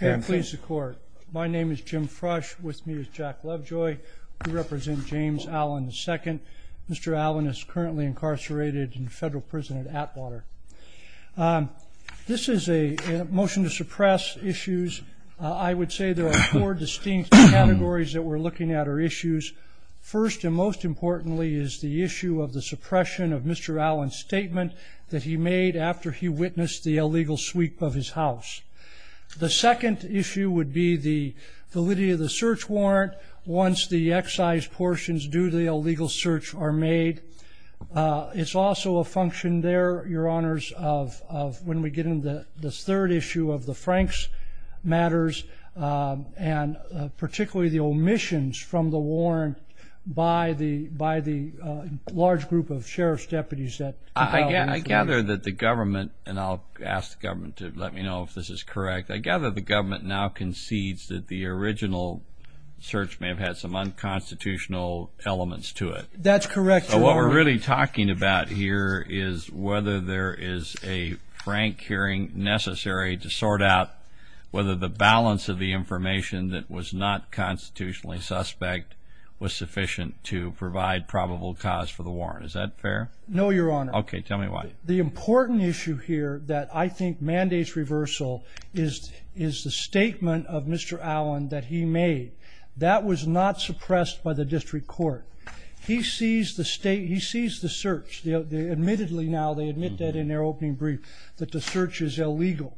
My name is Jim Frush, with me is Jack Lovejoy. We represent James Allen, II. Mr. Allen is currently incarcerated in federal prison at Atwater. This is a motion to suppress issues. I would say there are four distinct categories that we're looking at are issues. First and most importantly is the issue of the suppression of Mr. Allen's statement that he made after he witnessed the illegal sweep of his house. The second issue would be the validity of the search warrant once the excise portions due to the illegal search are made. It's also a function there, Your Honors, of when we get into this third issue of the Franks matters and particularly the omissions from the warrant by the large group of sheriff's deputies. I gather that the government, and I'll ask the government to let me know if this is correct, I gather the government now concedes that the original search may have had some unconstitutional elements to it. That's correct, Your Honor. So what we're really talking about here is whether there is a Frank hearing necessary to sort out whether the balance of the information that was not constitutionally suspect was sufficient to provide probable cause for the warrant. Is that fair? No, Your Honor. Okay, tell me why. The important issue here that I think mandates reversal is the statement of Mr. Allen that he made. That was not suppressed by the district court. He sees the search. Admittedly now they admit that in their opening brief that the search is illegal.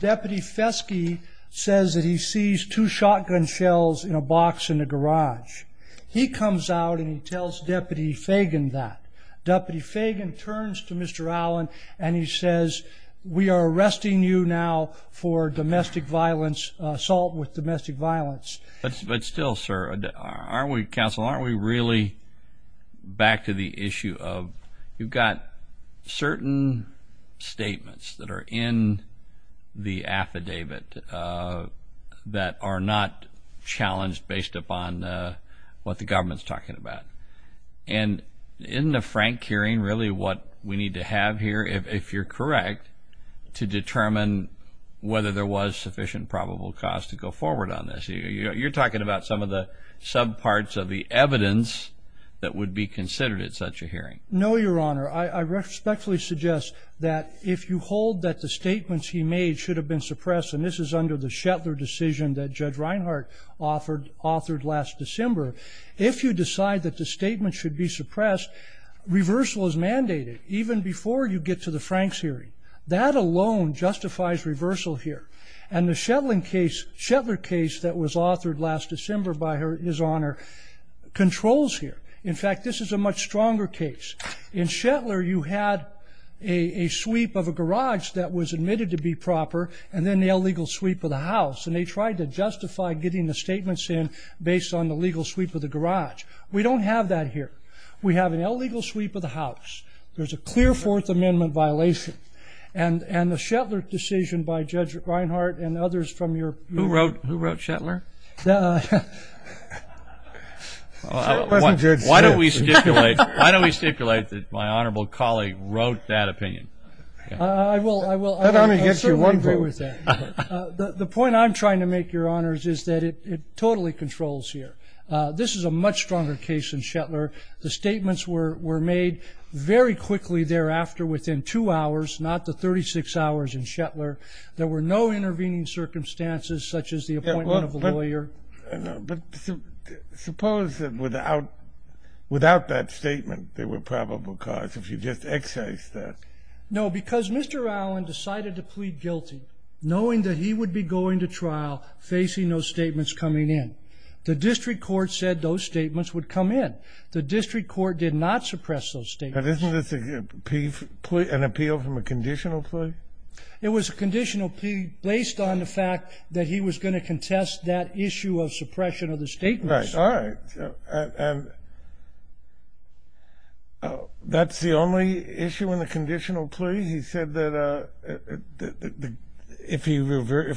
Deputy Feske says that he sees two shotgun shells in a box in the garage. He comes out and he tells Deputy Fagan that. Deputy Fagan turns to Mr. Allen and he says, we are arresting you now for domestic violence, assault with domestic violence. But still, sir, aren't we, counsel, aren't we really back to the issue of you've got certain statements that are in the affidavit that are not challenged based upon what the government's talking about? And isn't a Frank hearing really what we need to have here, if you're correct, to determine whether there was sufficient probable cause to go forward on this? You're talking about some of the sub parts of the evidence that would be considered at such a hearing. No, Your Honor. I respectfully suggest that if you hold that the statements he made should have been suppressed, and this is under the Shetlar decision that Judge Reinhart authored last December, if you decide that the statement should be suppressed, reversal is mandated, even before you get to the Franks hearing. That alone justifies reversal here. And the Shetlar case that was authored last December, by his honor, controls here. In fact, this is a much stronger case. In Shetlar, you had a sweep of a garage that was admitted to be proper, and then the illegal sweep of the house, and they tried to justify getting the statements in based on the legal sweep of the garage. We don't have that here. We have an illegal sweep of the house. There's a clear Fourth Amendment violation. And the Shetlar decision by Judge Reinhart and others from your group. Who wrote Shetlar? Why don't we stipulate that my honorable colleague wrote that opinion? I will. I certainly agree with that. The point I'm trying to make, Your Honors, is that it totally controls here. This is a much stronger case in Shetlar. The statements were made very quickly thereafter, within two hours, not the 36 hours in Shetlar. There were no intervening circumstances, such as the appointment of a lawyer. But suppose that without that statement, there were probable cause, if you just exercise that. No, because Mr. Allen decided to plead guilty, knowing that he would be going to trial facing those statements coming in. The district court said those statements would come in. The district court did not suppress those statements. But isn't this an appeal from a conditional plea? It was a conditional plea based on the fact that he was going to contest that issue of suppression of the statements. Right. All right. And that's the only issue in the conditional plea? He said that if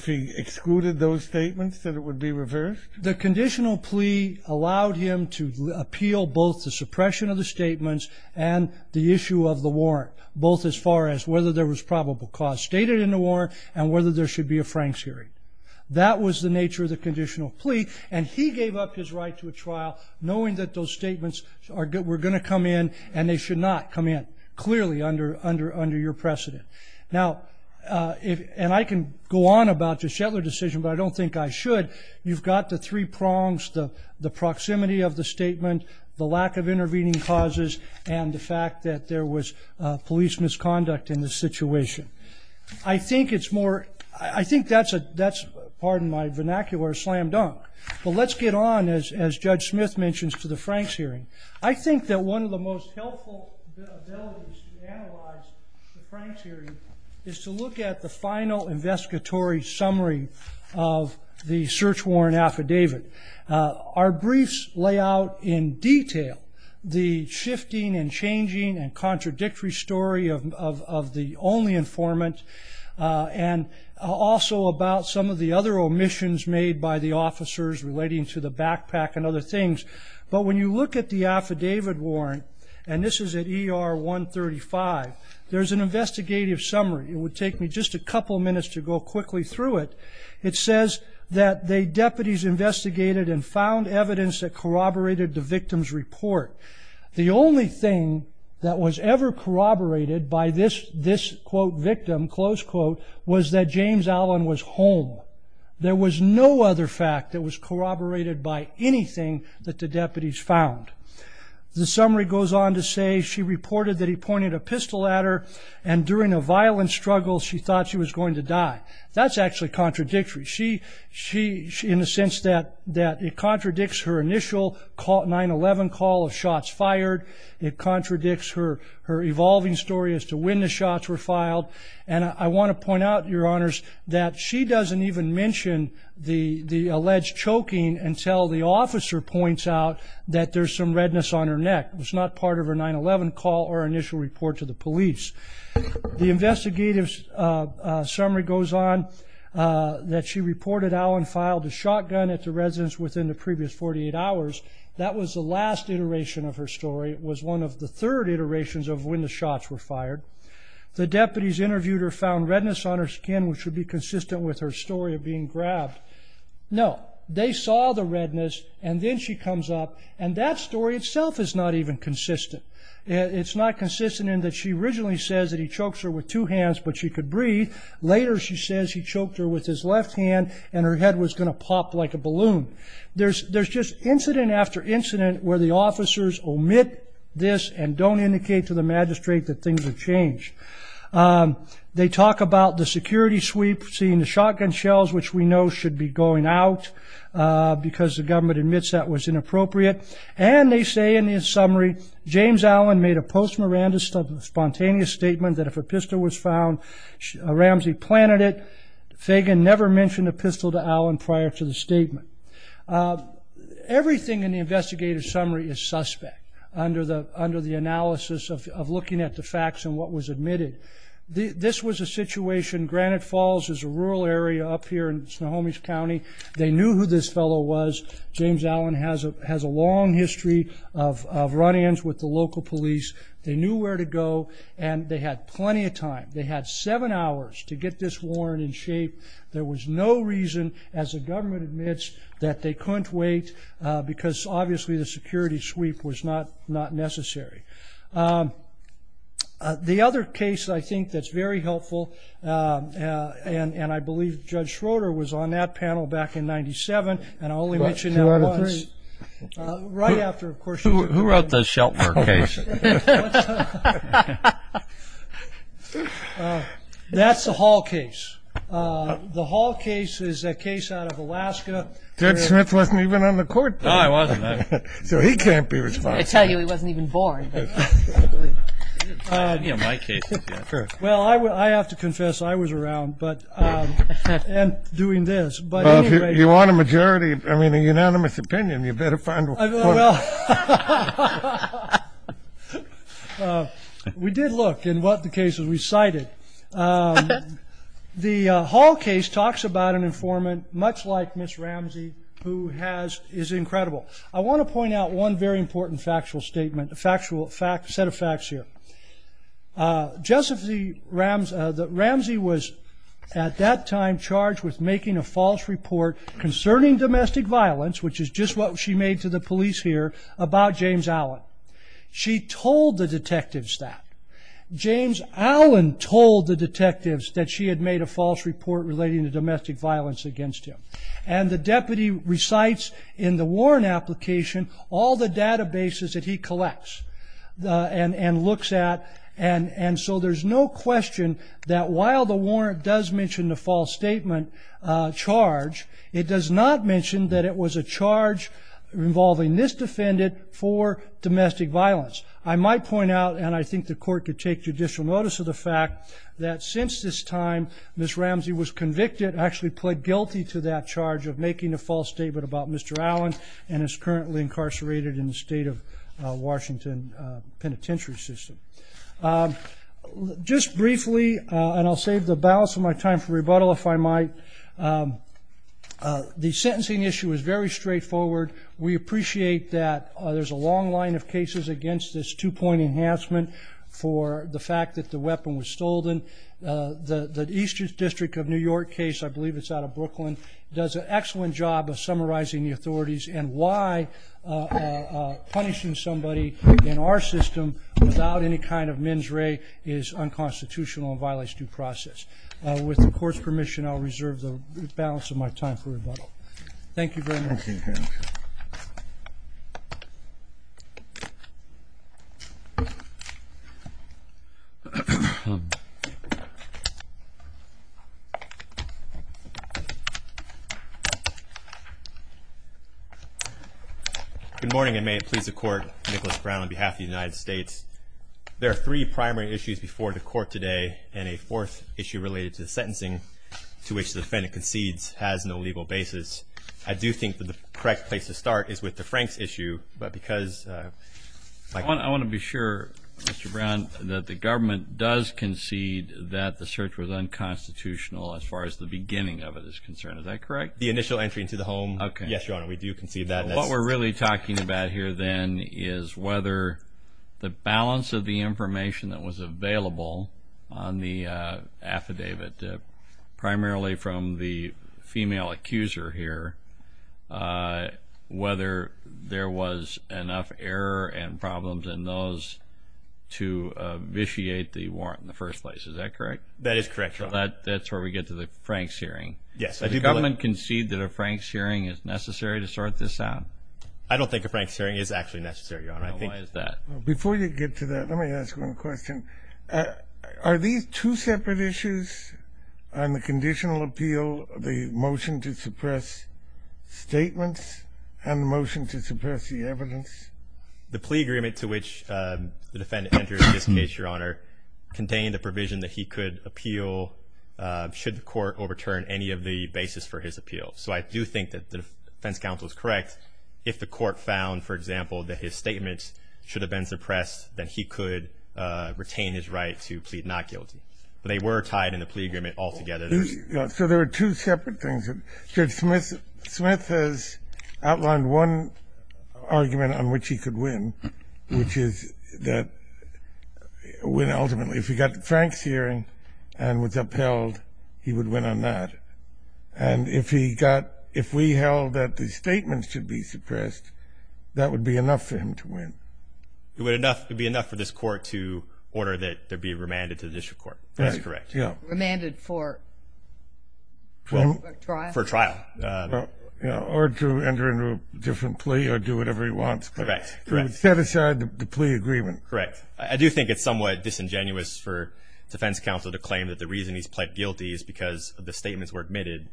he excluded those statements, that it would be reversed? The conditional plea allowed him to appeal both the suppression of the statements and the issue of the warrant, both as far as whether there was probable cause stated in the warrant and whether there should be a Franks hearing. That was the nature of the conditional plea. And he gave up his right to a trial, knowing that those statements were going to come in and they should not come in, clearly under your precedent. Now, and I can go on about the Shetlar decision, but I don't think I should. You've got the three prongs, the proximity of the statement, the lack of intervening causes, and the fact that there was police misconduct in this situation. I think that's, pardon my vernacular, a slam dunk. But let's get on, as Judge Smith mentions, to the Franks hearing. I think that one of the most helpful abilities to analyze the Franks hearing is to look at the final investigatory summary of the search warrant affidavit. Our briefs lay out in detail the shifting and changing and contradictory story of the only informant and also about some of the other omissions made by the officers relating to the backpack and other things. But when you look at the affidavit warrant, and this is at ER 135, there's an investigative summary. It would take me just a couple minutes to go quickly through it. It says that the deputies investigated and found evidence that corroborated the victim's report. The only thing that was ever corroborated by this, quote, victim, close quote, was that James Allen was home. There was no other fact that was corroborated by anything that the deputies found. The summary goes on to say she reported that he pointed a pistol at her and during a violent struggle she thought she was going to die. That's actually contradictory in the sense that it contradicts her initial 9-11 call of shots fired. It contradicts her evolving story as to when the shots were filed. And I want to point out, Your Honors, that she doesn't even mention the alleged choking until the officer points out that there's some redness on her neck. It was not part of her 9-11 call or initial report to the police. The investigative summary goes on that she reported Allen filed a shotgun at the residence within the previous 48 hours. That was the last iteration of her story. It was one of the third iterations of when the shots were fired. The deputies interviewed her found redness on her skin, which would be consistent with her story of being grabbed. No, they saw the redness, and then she comes up, and that story itself is not even consistent. It's not consistent in that she originally says that he chokes her with two hands, but she could breathe. Later she says he choked her with his left hand, and her head was going to pop like a balloon. There's just incident after incident where the officers omit this and don't indicate to the magistrate that things have changed. They talk about the security sweep, seeing the shotgun shells, which we know should be going out because the government admits that was inappropriate, and they say in the summary, James Allen made a post-Miranda spontaneous statement that if a pistol was found, Ramsey planted it. Fagan never mentioned a pistol to Allen prior to the statement. Everything in the investigative summary is suspect under the analysis of looking at the facts and what was admitted. This was a situation. Granite Falls is a rural area up here in Snohomish County. They knew who this fellow was. James Allen has a long history of run-ins with the local police. They knew where to go, and they had plenty of time. They had seven hours to get this warrant in shape. There was no reason, as the government admits, that they couldn't wait because obviously the security sweep was not necessary. The other case I think that's very helpful, and I believe Judge Schroeder was on that panel back in 1997, and I'll only mention that once. Who wrote the Sheltner case? That's the Hall case. The Hall case is a case out of Alaska. Judge Smith wasn't even on the court then. No, he wasn't. So he can't be responsible. I tell you, he wasn't even born. Well, I have to confess, I was around and doing this. Well, if you want a majority, I mean a unanimous opinion, you better find one. We did look at what the cases we cited. The Hall case talks about an informant much like Ms. Ramsey who is incredible. I want to point out one very important factual statement, a set of facts here. Ramsey was at that time charged with making a false report concerning domestic violence, which is just what she made to the police here, about James Allen. She told the detectives that. James Allen told the detectives that she had made a false report relating to domestic violence against him. And the deputy recites in the warrant application all the databases that he collects and looks at. And so there's no question that while the warrant does mention the false statement charge, it does not mention that it was a charge involving this defendant for domestic violence. I might point out, and I think the court could take judicial notice of the fact, that since this time, Ms. Ramsey was convicted, actually pled guilty to that charge of making a false statement about Mr. Allen and is currently incarcerated in the state of Washington Penitentiary System. Just briefly, and I'll save the balance of my time for rebuttal if I might, the sentencing issue is very straightforward. We appreciate that there's a long line of cases against this two-point enhancement for the fact that the weapon was stolen. The Eastern District of New York case, I believe it's out of Brooklyn, does an excellent job of summarizing the authorities and why punishing somebody in our system without any kind of mens rea is unconstitutional and violates due process. With the court's permission, I'll reserve the balance of my time for rebuttal. Thank you very much. Thank you, Your Honor. Good morning, and may it please the Court. Nicholas Brown on behalf of the United States. There are three primary issues before the Court today and a fourth issue related to the sentencing to which the defendant concedes has no legal basis. I do think that the correct place to start is with the Franks issue. I want to be sure, Mr. Brown, that the government does concede that the search was unconstitutional as far as the beginning of it is concerned. Is that correct? The initial entry into the home, yes, Your Honor, we do concede that. What we're really talking about here then is whether the balance of the information that was available on the affidavit, primarily from the female accuser here, whether there was enough error and problems in those to vitiate the warrant in the first place. Is that correct? That is correct, Your Honor. So that's where we get to the Franks hearing. Yes. Does the government concede that a Franks hearing is necessary to sort this out? I don't think a Franks hearing is actually necessary, Your Honor. Then why is that? Before you get to that, let me ask one question. Are these two separate issues on the conditional appeal, the motion to suppress statements, and the motion to suppress the evidence? The plea agreement to which the defendant entered in this case, Your Honor, contained a provision that he could appeal should the court overturn any of the basis for his appeal. So I do think that the defense counsel is correct if the court found, for example, that his statements should have been suppressed, that he could retain his right to plead not guilty. But they were tied in the plea agreement altogether. So there are two separate things. Judge Smith has outlined one argument on which he could win, which is that ultimately, if he got the Franks hearing and was upheld, he would win on that. And if we held that the statements should be suppressed, that would be enough for him to win. It would be enough for this court to order that there be remanded to the district court. That's correct. Remanded for trial? For trial. Or to enter into a different plea or do whatever he wants. Correct. Set aside the plea agreement. Correct. I do think it's somewhat disingenuous for defense counsel to claim that the reason he's pled guilty is because the statements were admitted.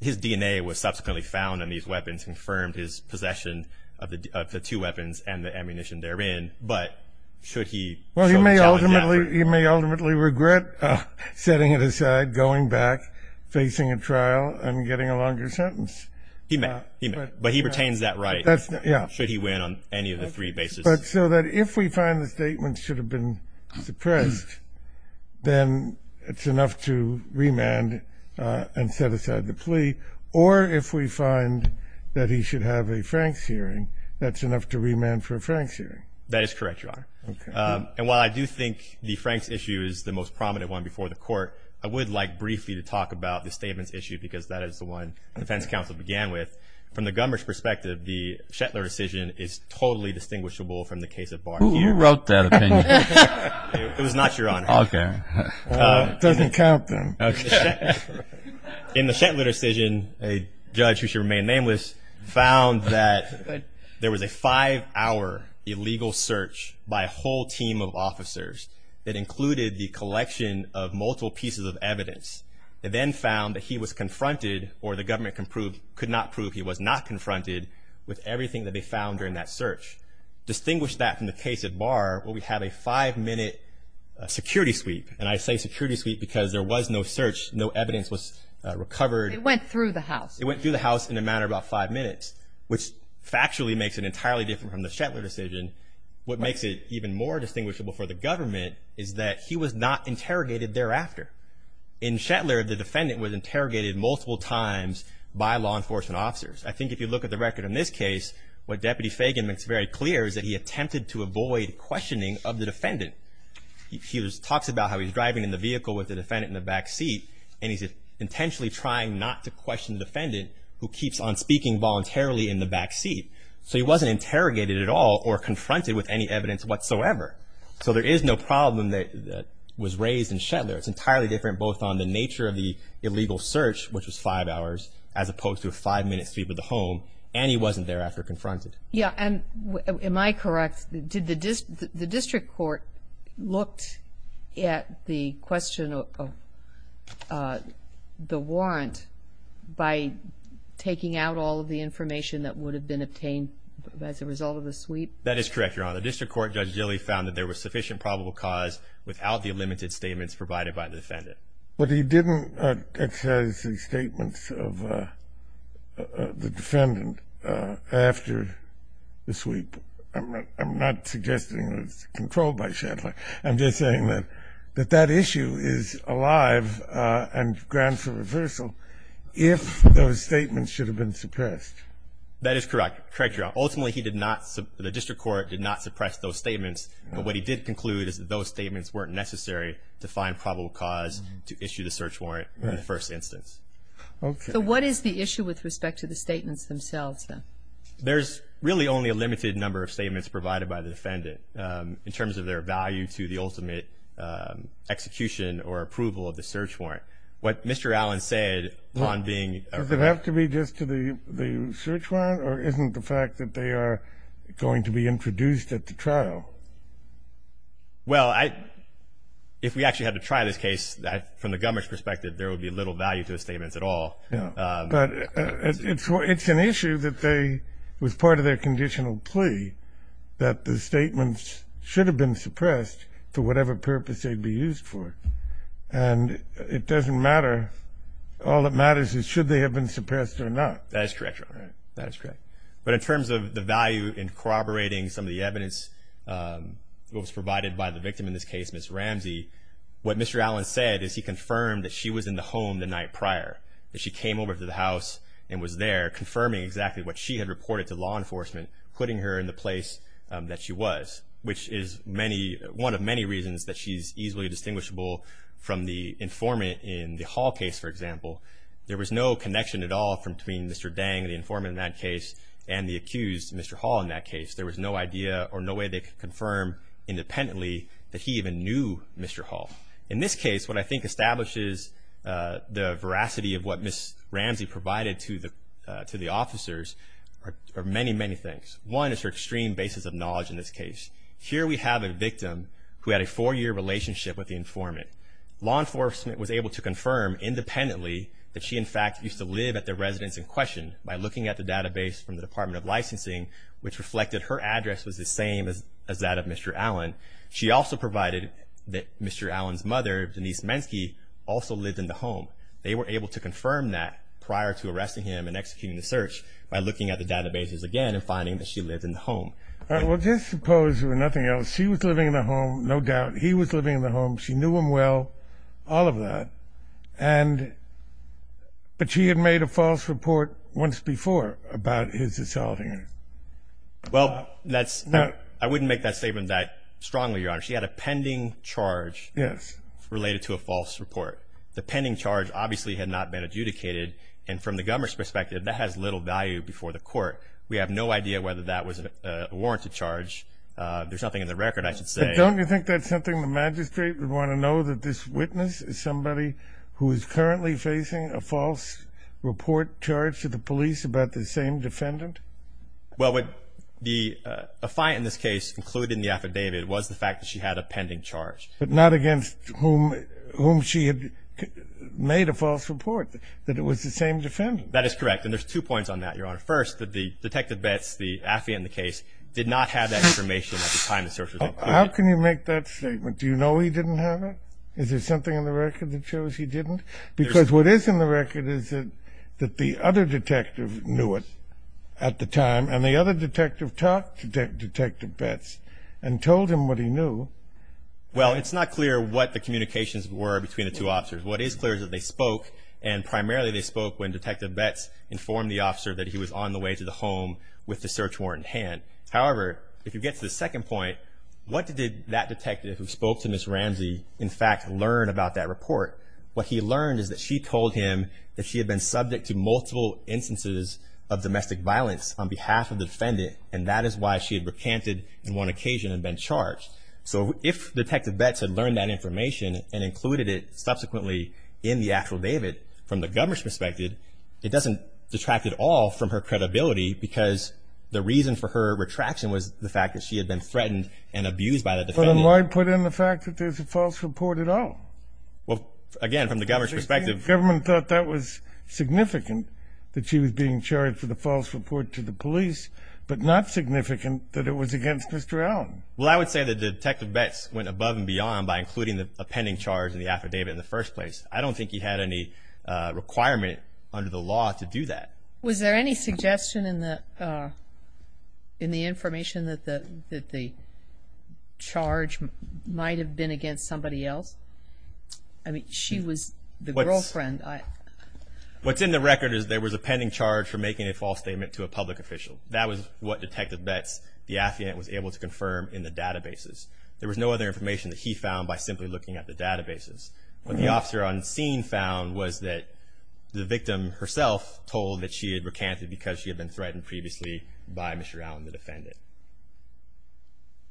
His DNA was subsequently found on these weapons, confirmed his possession of the two weapons and the ammunition therein. But should he challenge that? Well, he may ultimately regret setting it aside, going back, facing a trial, and getting a longer sentence. He may. But he retains that right should he win on any of the three bases. But so that if we find the statements should have been suppressed, then it's enough to remand and set aside the plea. Or if we find that he should have a Franks hearing, that's enough to remand for a Franks hearing. That is correct, Your Honor. And while I do think the Franks issue is the most prominent one before the court, I would like briefly to talk about the statements issue because that is the one defense counsel began with. From the gunman's perspective, the Shetlar decision is totally distinguishable from the case of Barnier. Who wrote that opinion? It was not Your Honor. Okay. It doesn't count then. In the Shetlar decision, a judge, who shall remain nameless, found that there was a five-hour illegal search by a whole team of officers that included the collection of multiple pieces of evidence. They then found that he was confronted, or the government could not prove he was not confronted, with everything that they found during that search. Distinguish that from the case at Barr where we have a five-minute security sweep. And I say security sweep because there was no search. No evidence was recovered. It went through the house. It went through the house in a matter of about five minutes, which factually makes it entirely different from the Shetlar decision. What makes it even more distinguishable for the government is that he was not interrogated thereafter. In Shetlar, the defendant was interrogated multiple times by law enforcement officers. I think if you look at the record in this case, what Deputy Fagan makes very clear is that he attempted to avoid questioning of the defendant. He talks about how he's driving in the vehicle with the defendant in the back seat, and he's intentionally trying not to question the defendant, who keeps on speaking voluntarily in the back seat. So he wasn't interrogated at all or confronted with any evidence whatsoever. So there is no problem that was raised in Shetlar. It's entirely different both on the nature of the illegal search, which was five hours, as opposed to a five-minute sweep of the home, and he wasn't thereafter confronted. Yeah, and am I correct? Did the district court look at the question of the warrant by taking out all of the information that would have been obtained as a result of the sweep? That is correct, Your Honor. The district court, Judge Gilley, found that there was sufficient probable cause without the limited statements provided by the defendant. But he didn't exercise the statements of the defendant after the sweep. I'm not suggesting it was controlled by Shetlar. I'm just saying that that issue is alive and grand for reversal if those statements should have been suppressed. That is correct, Your Honor. Ultimately, the district court did not suppress those statements, but what he did conclude is that those statements weren't necessary to find probable cause to issue the search warrant in the first instance. Okay. So what is the issue with respect to the statements themselves, then? There's really only a limited number of statements provided by the defendant in terms of their value to the ultimate execution or approval of the search warrant. What Mr. Allen said on being ---- Does it have to be just to the search warrant, or isn't the fact that they are going to be introduced at the trial? Well, if we actually had to try this case, from the government's perspective, there would be little value to the statements at all. But it's an issue that was part of their conditional plea that the statements should have been suppressed for whatever purpose they'd be used for. And it doesn't matter. All that matters is should they have been suppressed or not. That is correct, Your Honor. That is correct. But in terms of the value in corroborating some of the evidence that was provided by the victim in this case, Ms. Ramsey, what Mr. Allen said is he confirmed that she was in the home the night prior, that she came over to the house and was there, confirming exactly what she had reported to law enforcement, putting her in the place that she was, which is one of many reasons that she's easily distinguishable from the informant in the Hall case, for example. There was no connection at all between Mr. Dang, the informant in that case, and the accused, Mr. Hall, in that case. There was no idea or no way they could confirm independently that he even knew Mr. Hall. In this case, what I think establishes the veracity of what Ms. Ramsey provided to the officers are many, many things. One is her extreme basis of knowledge in this case. Here we have a victim who had a four-year relationship with the informant. Law enforcement was able to confirm independently that she, in fact, used to live at the residence in question by looking at the database from the Department of Licensing, which reflected her address was the same as that of Mr. Allen. She also provided that Mr. Allen's mother, Denise Menske, also lived in the home. They were able to confirm that prior to arresting him and executing the search by looking at the databases again and finding that she lived in the home. Well, just suppose, if nothing else, she was living in the home, no doubt. He was living in the home. She knew him well, all of that, but she had made a false report once before about his assaulting her. Well, I wouldn't make that statement that strongly, Your Honor. She had a pending charge related to a false report. The pending charge obviously had not been adjudicated, and from the government's perspective, that has little value before the court. We have no idea whether that was a warranted charge. There's nothing in the record, I should say. But don't you think that's something the magistrate would want to know, that this witness is somebody who is currently facing a false report charged to the police about the same defendant? Well, a fight in this case, including the affidavit, was the fact that she had a pending charge. But not against whom she had made a false report, that it was the same defendant. That is correct, and there's two points on that, Your Honor. First, that the Detective Betts, the affidavit in the case, did not have that information at the time the search was concluded. How can you make that statement? Do you know he didn't have it? Is there something in the record that shows he didn't? Because what is in the record is that the other detective knew it at the time, and the other detective talked to Detective Betts and told him what he knew. Well, it's not clear what the communications were between the two officers. What is clear is that they spoke, and primarily they spoke when Detective Betts informed the officer that he was on the way to the home with the search warrant in hand. However, if you get to the second point, what did that detective who spoke to Ms. Ramsey, in fact, learn about that report? What he learned is that she told him that she had been subject to multiple instances of domestic violence on behalf of the defendant, and that is why she had recanted on one occasion and been charged. So if Detective Betts had learned that information and included it subsequently in the affidavit, from the government's perspective, it doesn't detract at all from her credibility because the reason for her retraction was the fact that she had been threatened and abused by the defendant. But then why put in the fact that there's a false report at all? Well, again, from the government's perspective. The government thought that was significant, that she was being charged with a false report to the police, but not significant that it was against Mr. Allen. Well, I would say that Detective Betts went above and beyond by including a pending charge in the affidavit in the first place. I don't think he had any requirement under the law to do that. Was there any suggestion in the information that the charge might have been against somebody else? I mean, she was the girlfriend. What's in the record is there was a pending charge for making a false statement to a public official. That was what Detective Betts, the affidavit, was able to confirm in the databases. There was no other information that he found by simply looking at the databases. What the officer on scene found was that the victim herself told that she had recanted because she had been threatened previously by Mr. Allen, the defendant.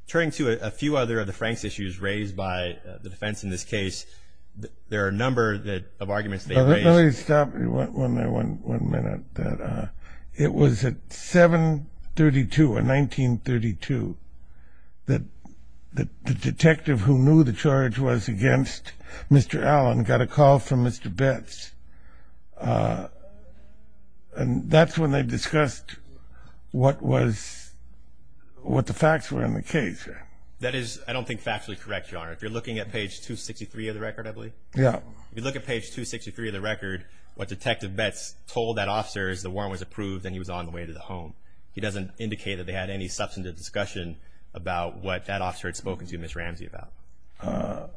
Turning to a few other of the Frank's issues raised by the defense in this case, there are a number of arguments they raised. Let me stop you there one minute. It was at 7.32 or 19.32 that the detective who knew the charge was against Mr. Allen got a call from Mr. Betts, and that's when they discussed what the facts were in the case. That is, I don't think, factually correct, Your Honor. If you're looking at page 263 of the record, I believe. Yeah. If you look at page 263 of the record, what Detective Betts told that officer is the warrant was approved and he was on the way to the home. He doesn't indicate that they had any substantive discussion about what that officer had spoken to Ms. Ramsey about.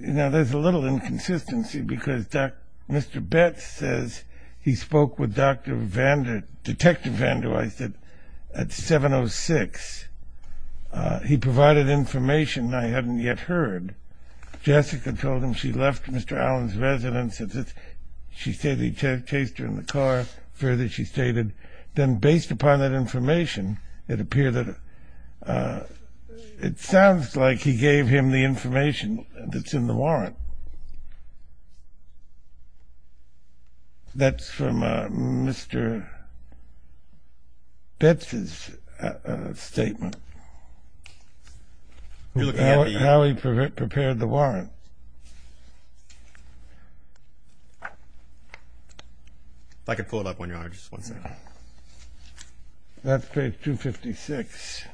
Now, there's a little inconsistency because Mr. Betts says he spoke with Detective Vanderweide at 7.06. He provided information I hadn't yet heard. Jessica told him she left Mr. Allen's residence. She said he chased her in the car. Further, she stated, then based upon that information, it appeared that it sounds like he gave him the information that's in the warrant. That's from Mr. Betts' statement, how he prepared the warrant. If I could pull it up, Your Honor, just one second. That's page 256.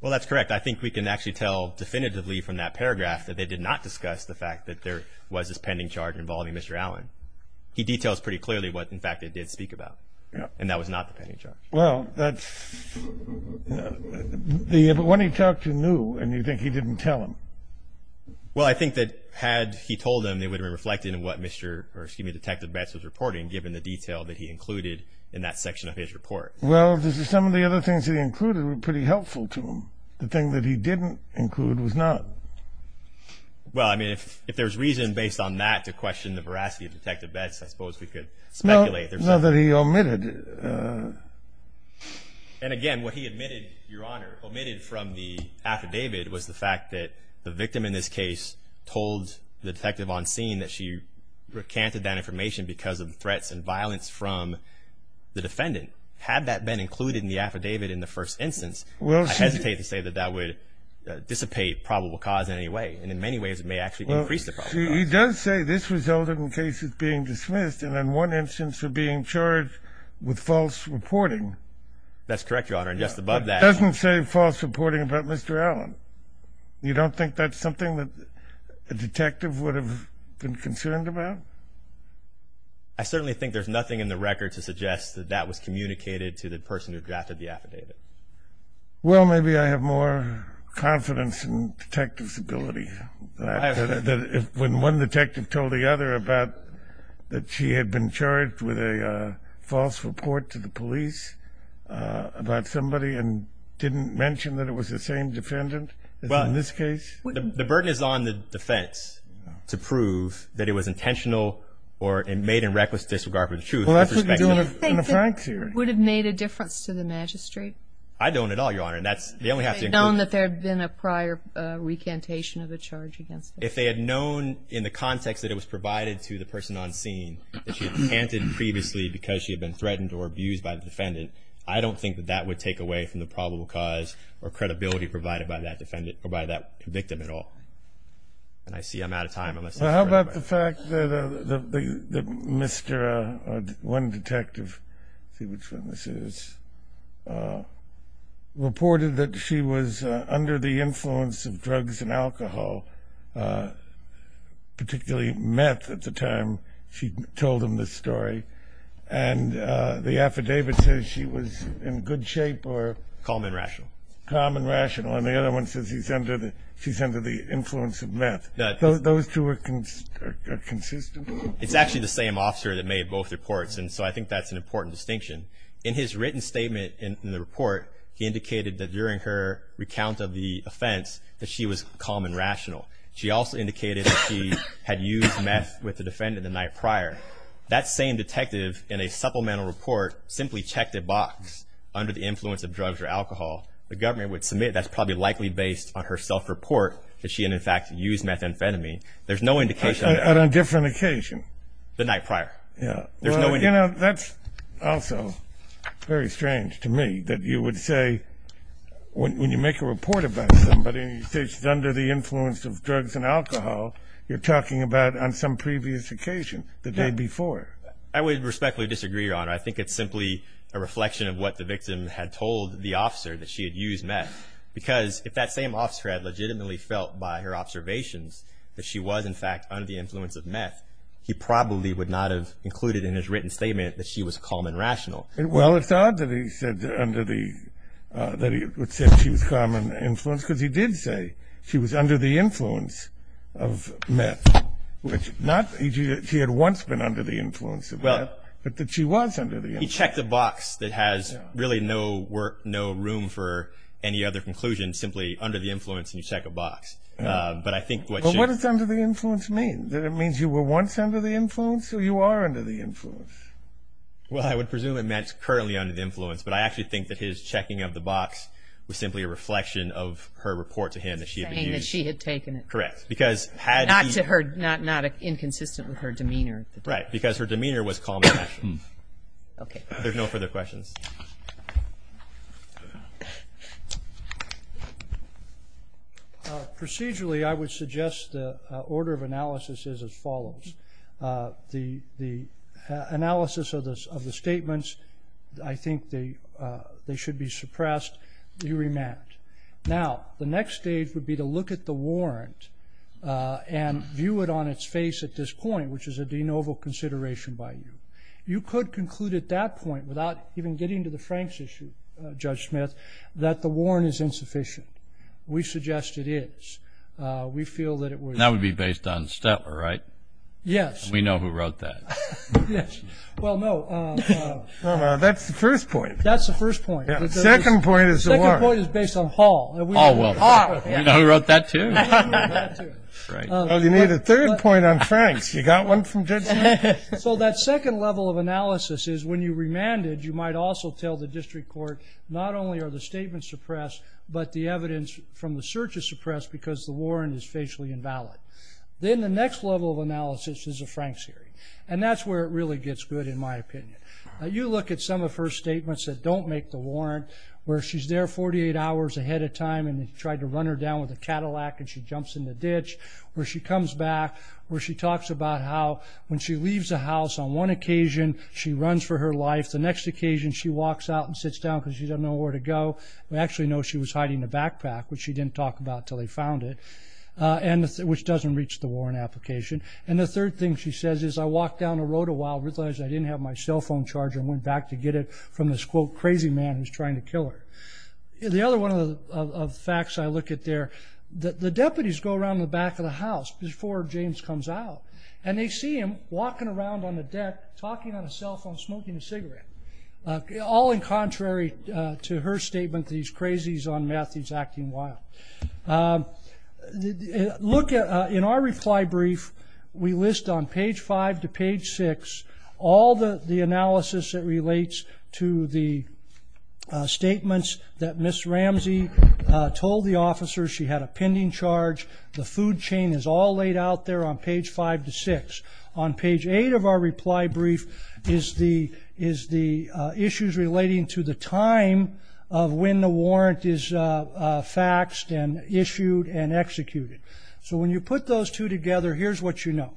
Well, that's correct. I think we can actually tell definitively from that paragraph that they did not discuss the fact that there was this pending charge involving Mr. Allen. He details pretty clearly what, in fact, they did speak about, and that was not the pending charge. Well, when he talked, you knew, and you think he didn't tell them. Well, I think that had he told them, they would have reflected in what Detective Betts was reporting, given the detail that he included in that section of his report. Well, some of the other things he included were pretty helpful to him. The thing that he didn't include was not. Well, I mean, if there's reason based on that to question the veracity of Detective Betts, I suppose we could speculate. No, that he omitted. And, again, what he omitted, Your Honor, omitted from the affidavit was the fact that the victim in this case told the detective on scene that she recanted that information because of threats and violence from the defendant. Had that been included in the affidavit in the first instance, I hesitate to say that that would dissipate probable cause in any way, and in many ways it may actually increase the probable cause. He does say this resulted in cases being dismissed and in one instance of being charged with false reporting. That's correct, Your Honor, and just above that. It doesn't say false reporting about Mr. Allen. You don't think that's something that a detective would have been concerned about? I certainly think there's nothing in the record to suggest that that was communicated to the person who drafted the affidavit. Well, maybe I have more confidence in detectives' ability. When one detective told the other about that she had been charged with a false report to the police about somebody and didn't mention that it was the same defendant as in this case? The burden is on the defense to prove that it was intentional or made in reckless disregard for the truth. Well, that's what we do in the Frank theory. Do you think it would have made a difference to the magistrate? I don't at all, Your Honor. If they had known that there had been a prior recantation of the charge against them? If they had known in the context that it was provided to the person on scene that she had recanted previously because she had been threatened or abused by the defendant, I don't think that that would take away from the probable cause or credibility provided by that victim at all. I see I'm out of time. Well, how about the fact that one detective reported that she was under the influence of drugs and alcohol, particularly meth at the time she told him this story, and the affidavit says she was in good shape or calm and rational, and the other one says she's under the influence of meth. Those two are consistent? It's actually the same officer that made both reports, and so I think that's an important distinction. In his written statement in the report, he indicated that during her recount of the offense that she was calm and rational. She also indicated that she had used meth with the defendant the night prior. That same detective in a supplemental report simply checked a box under the influence of drugs or alcohol. The government would submit that's probably likely based on her self-report that she had, in fact, used methamphetamine. There's no indication. On a different occasion? The night prior. Yeah. Well, you know, that's also very strange to me that you would say when you make a report about somebody and you say she's under the influence of drugs and alcohol, you're talking about on some previous occasion, the day before. I would respectfully disagree, Your Honor. I think it's simply a reflection of what the victim had told the officer that she had used meth because if that same officer had legitimately felt by her observations that she was, in fact, under the influence of meth, he probably would not have included in his written statement that she was calm and rational. Well, it's odd that he said that she was calm and influenced because he did say she was under the influence of meth. He had once been under the influence of meth, but that she was under the influence. He checked a box that has really no room for any other conclusion, simply under the influence and you check a box. But I think what you're saying. What does under the influence mean? Does it mean you were once under the influence or you are under the influence? Well, I would presume it meant currently under the influence, but I actually think that his checking of the box was simply a reflection of her report to him that she had used. Saying that she had taken it. Correct. Not inconsistent with her demeanor. Right, because her demeanor was calm and rational. There's no further questions. Procedurally, I would suggest the order of analysis is as follows. The analysis of the statements, I think they should be suppressed. You remand. Now, the next stage would be to look at the warrant and view it on its face at this point, which is a de novo consideration by you. You could conclude at that point, without even getting to the Franks issue, Judge Smith, that the warrant is insufficient. We suggest it is. We feel that it was. That would be based on Stetler, right? Yes. We know who wrote that. Yes. Well, no. That's the first point. That's the first point. The second point is the warrant. The second point is based on Hall. Hall wrote it. Hall. We know who wrote that, too. Well, you need a third point on Franks. You got one from Judge Smith? So that second level of analysis is when you remand it, you might also tell the district court not only are the statements suppressed, but the evidence from the search is suppressed because the warrant is facially invalid. Then the next level of analysis is a Franks hearing, and that's where it really gets good, in my opinion. You look at some of her statements that don't make the warrant, where she's there 48 hours ahead of time, and they tried to run her down with a Cadillac, and she jumps in the ditch, where she comes back, where she talks about how when she leaves the house, on one occasion she runs for her life. The next occasion she walks out and sits down because she doesn't know where to go. We actually know she was hiding a backpack, which she didn't talk about until they found it, which doesn't reach the warrant application. And the third thing she says is, I walked down the road a while, realized I didn't have my cell phone charger, and went back to get it from this, quote, crazy man who's trying to kill her. The other one of the facts I look at there, the deputies go around the back of the house before James comes out, and they see him walking around on the deck, talking on his cell phone, smoking a cigarette, all in contrary to her statement that he's crazy, he's on meth, he's acting wild. In our reply brief, we list on page five to page six all the analysis that relates to the statements that Ms. Ramsey told the officers. She had a pending charge. The food chain is all laid out there on page five to six. On page eight of our reply brief is the issues relating to the time of when the warrant is faxed and issued and executed. So when you put those two together, here's what you know.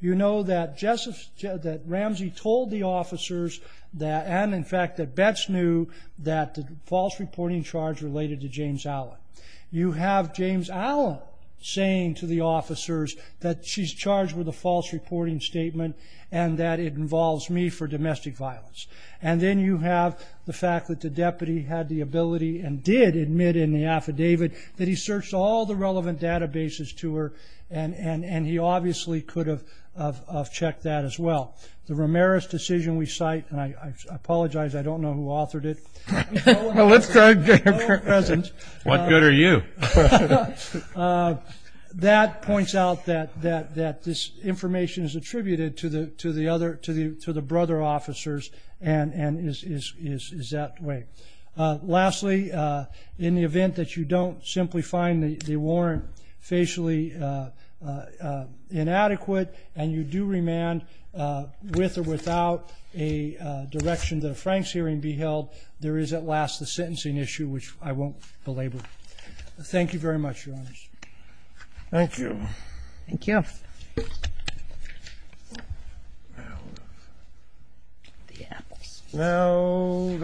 You know that Ramsey told the officers, and in fact that Betz knew, that the false reporting charge related to James Allen. You have James Allen saying to the officers that she's charged with a false reporting statement and that it involves me for domestic violence. And then you have the fact that the deputy had the ability and did admit in the affidavit that he searched all the relevant databases to her, and he obviously could have checked that as well. The Ramirez decision we cite, and I apologize, I don't know who authored it. Let's give her a present. What good are you? That points out that this information is attributed to the brother officers and is that way. Lastly, in the event that you don't simply find the warrant facially inadequate and you do remand with or without a direction that a Franks hearing be held, there is at last the sentencing issue, which I won't belabor. Thank you very much, Your Honors. Thank you. Thank you. Well... The apples.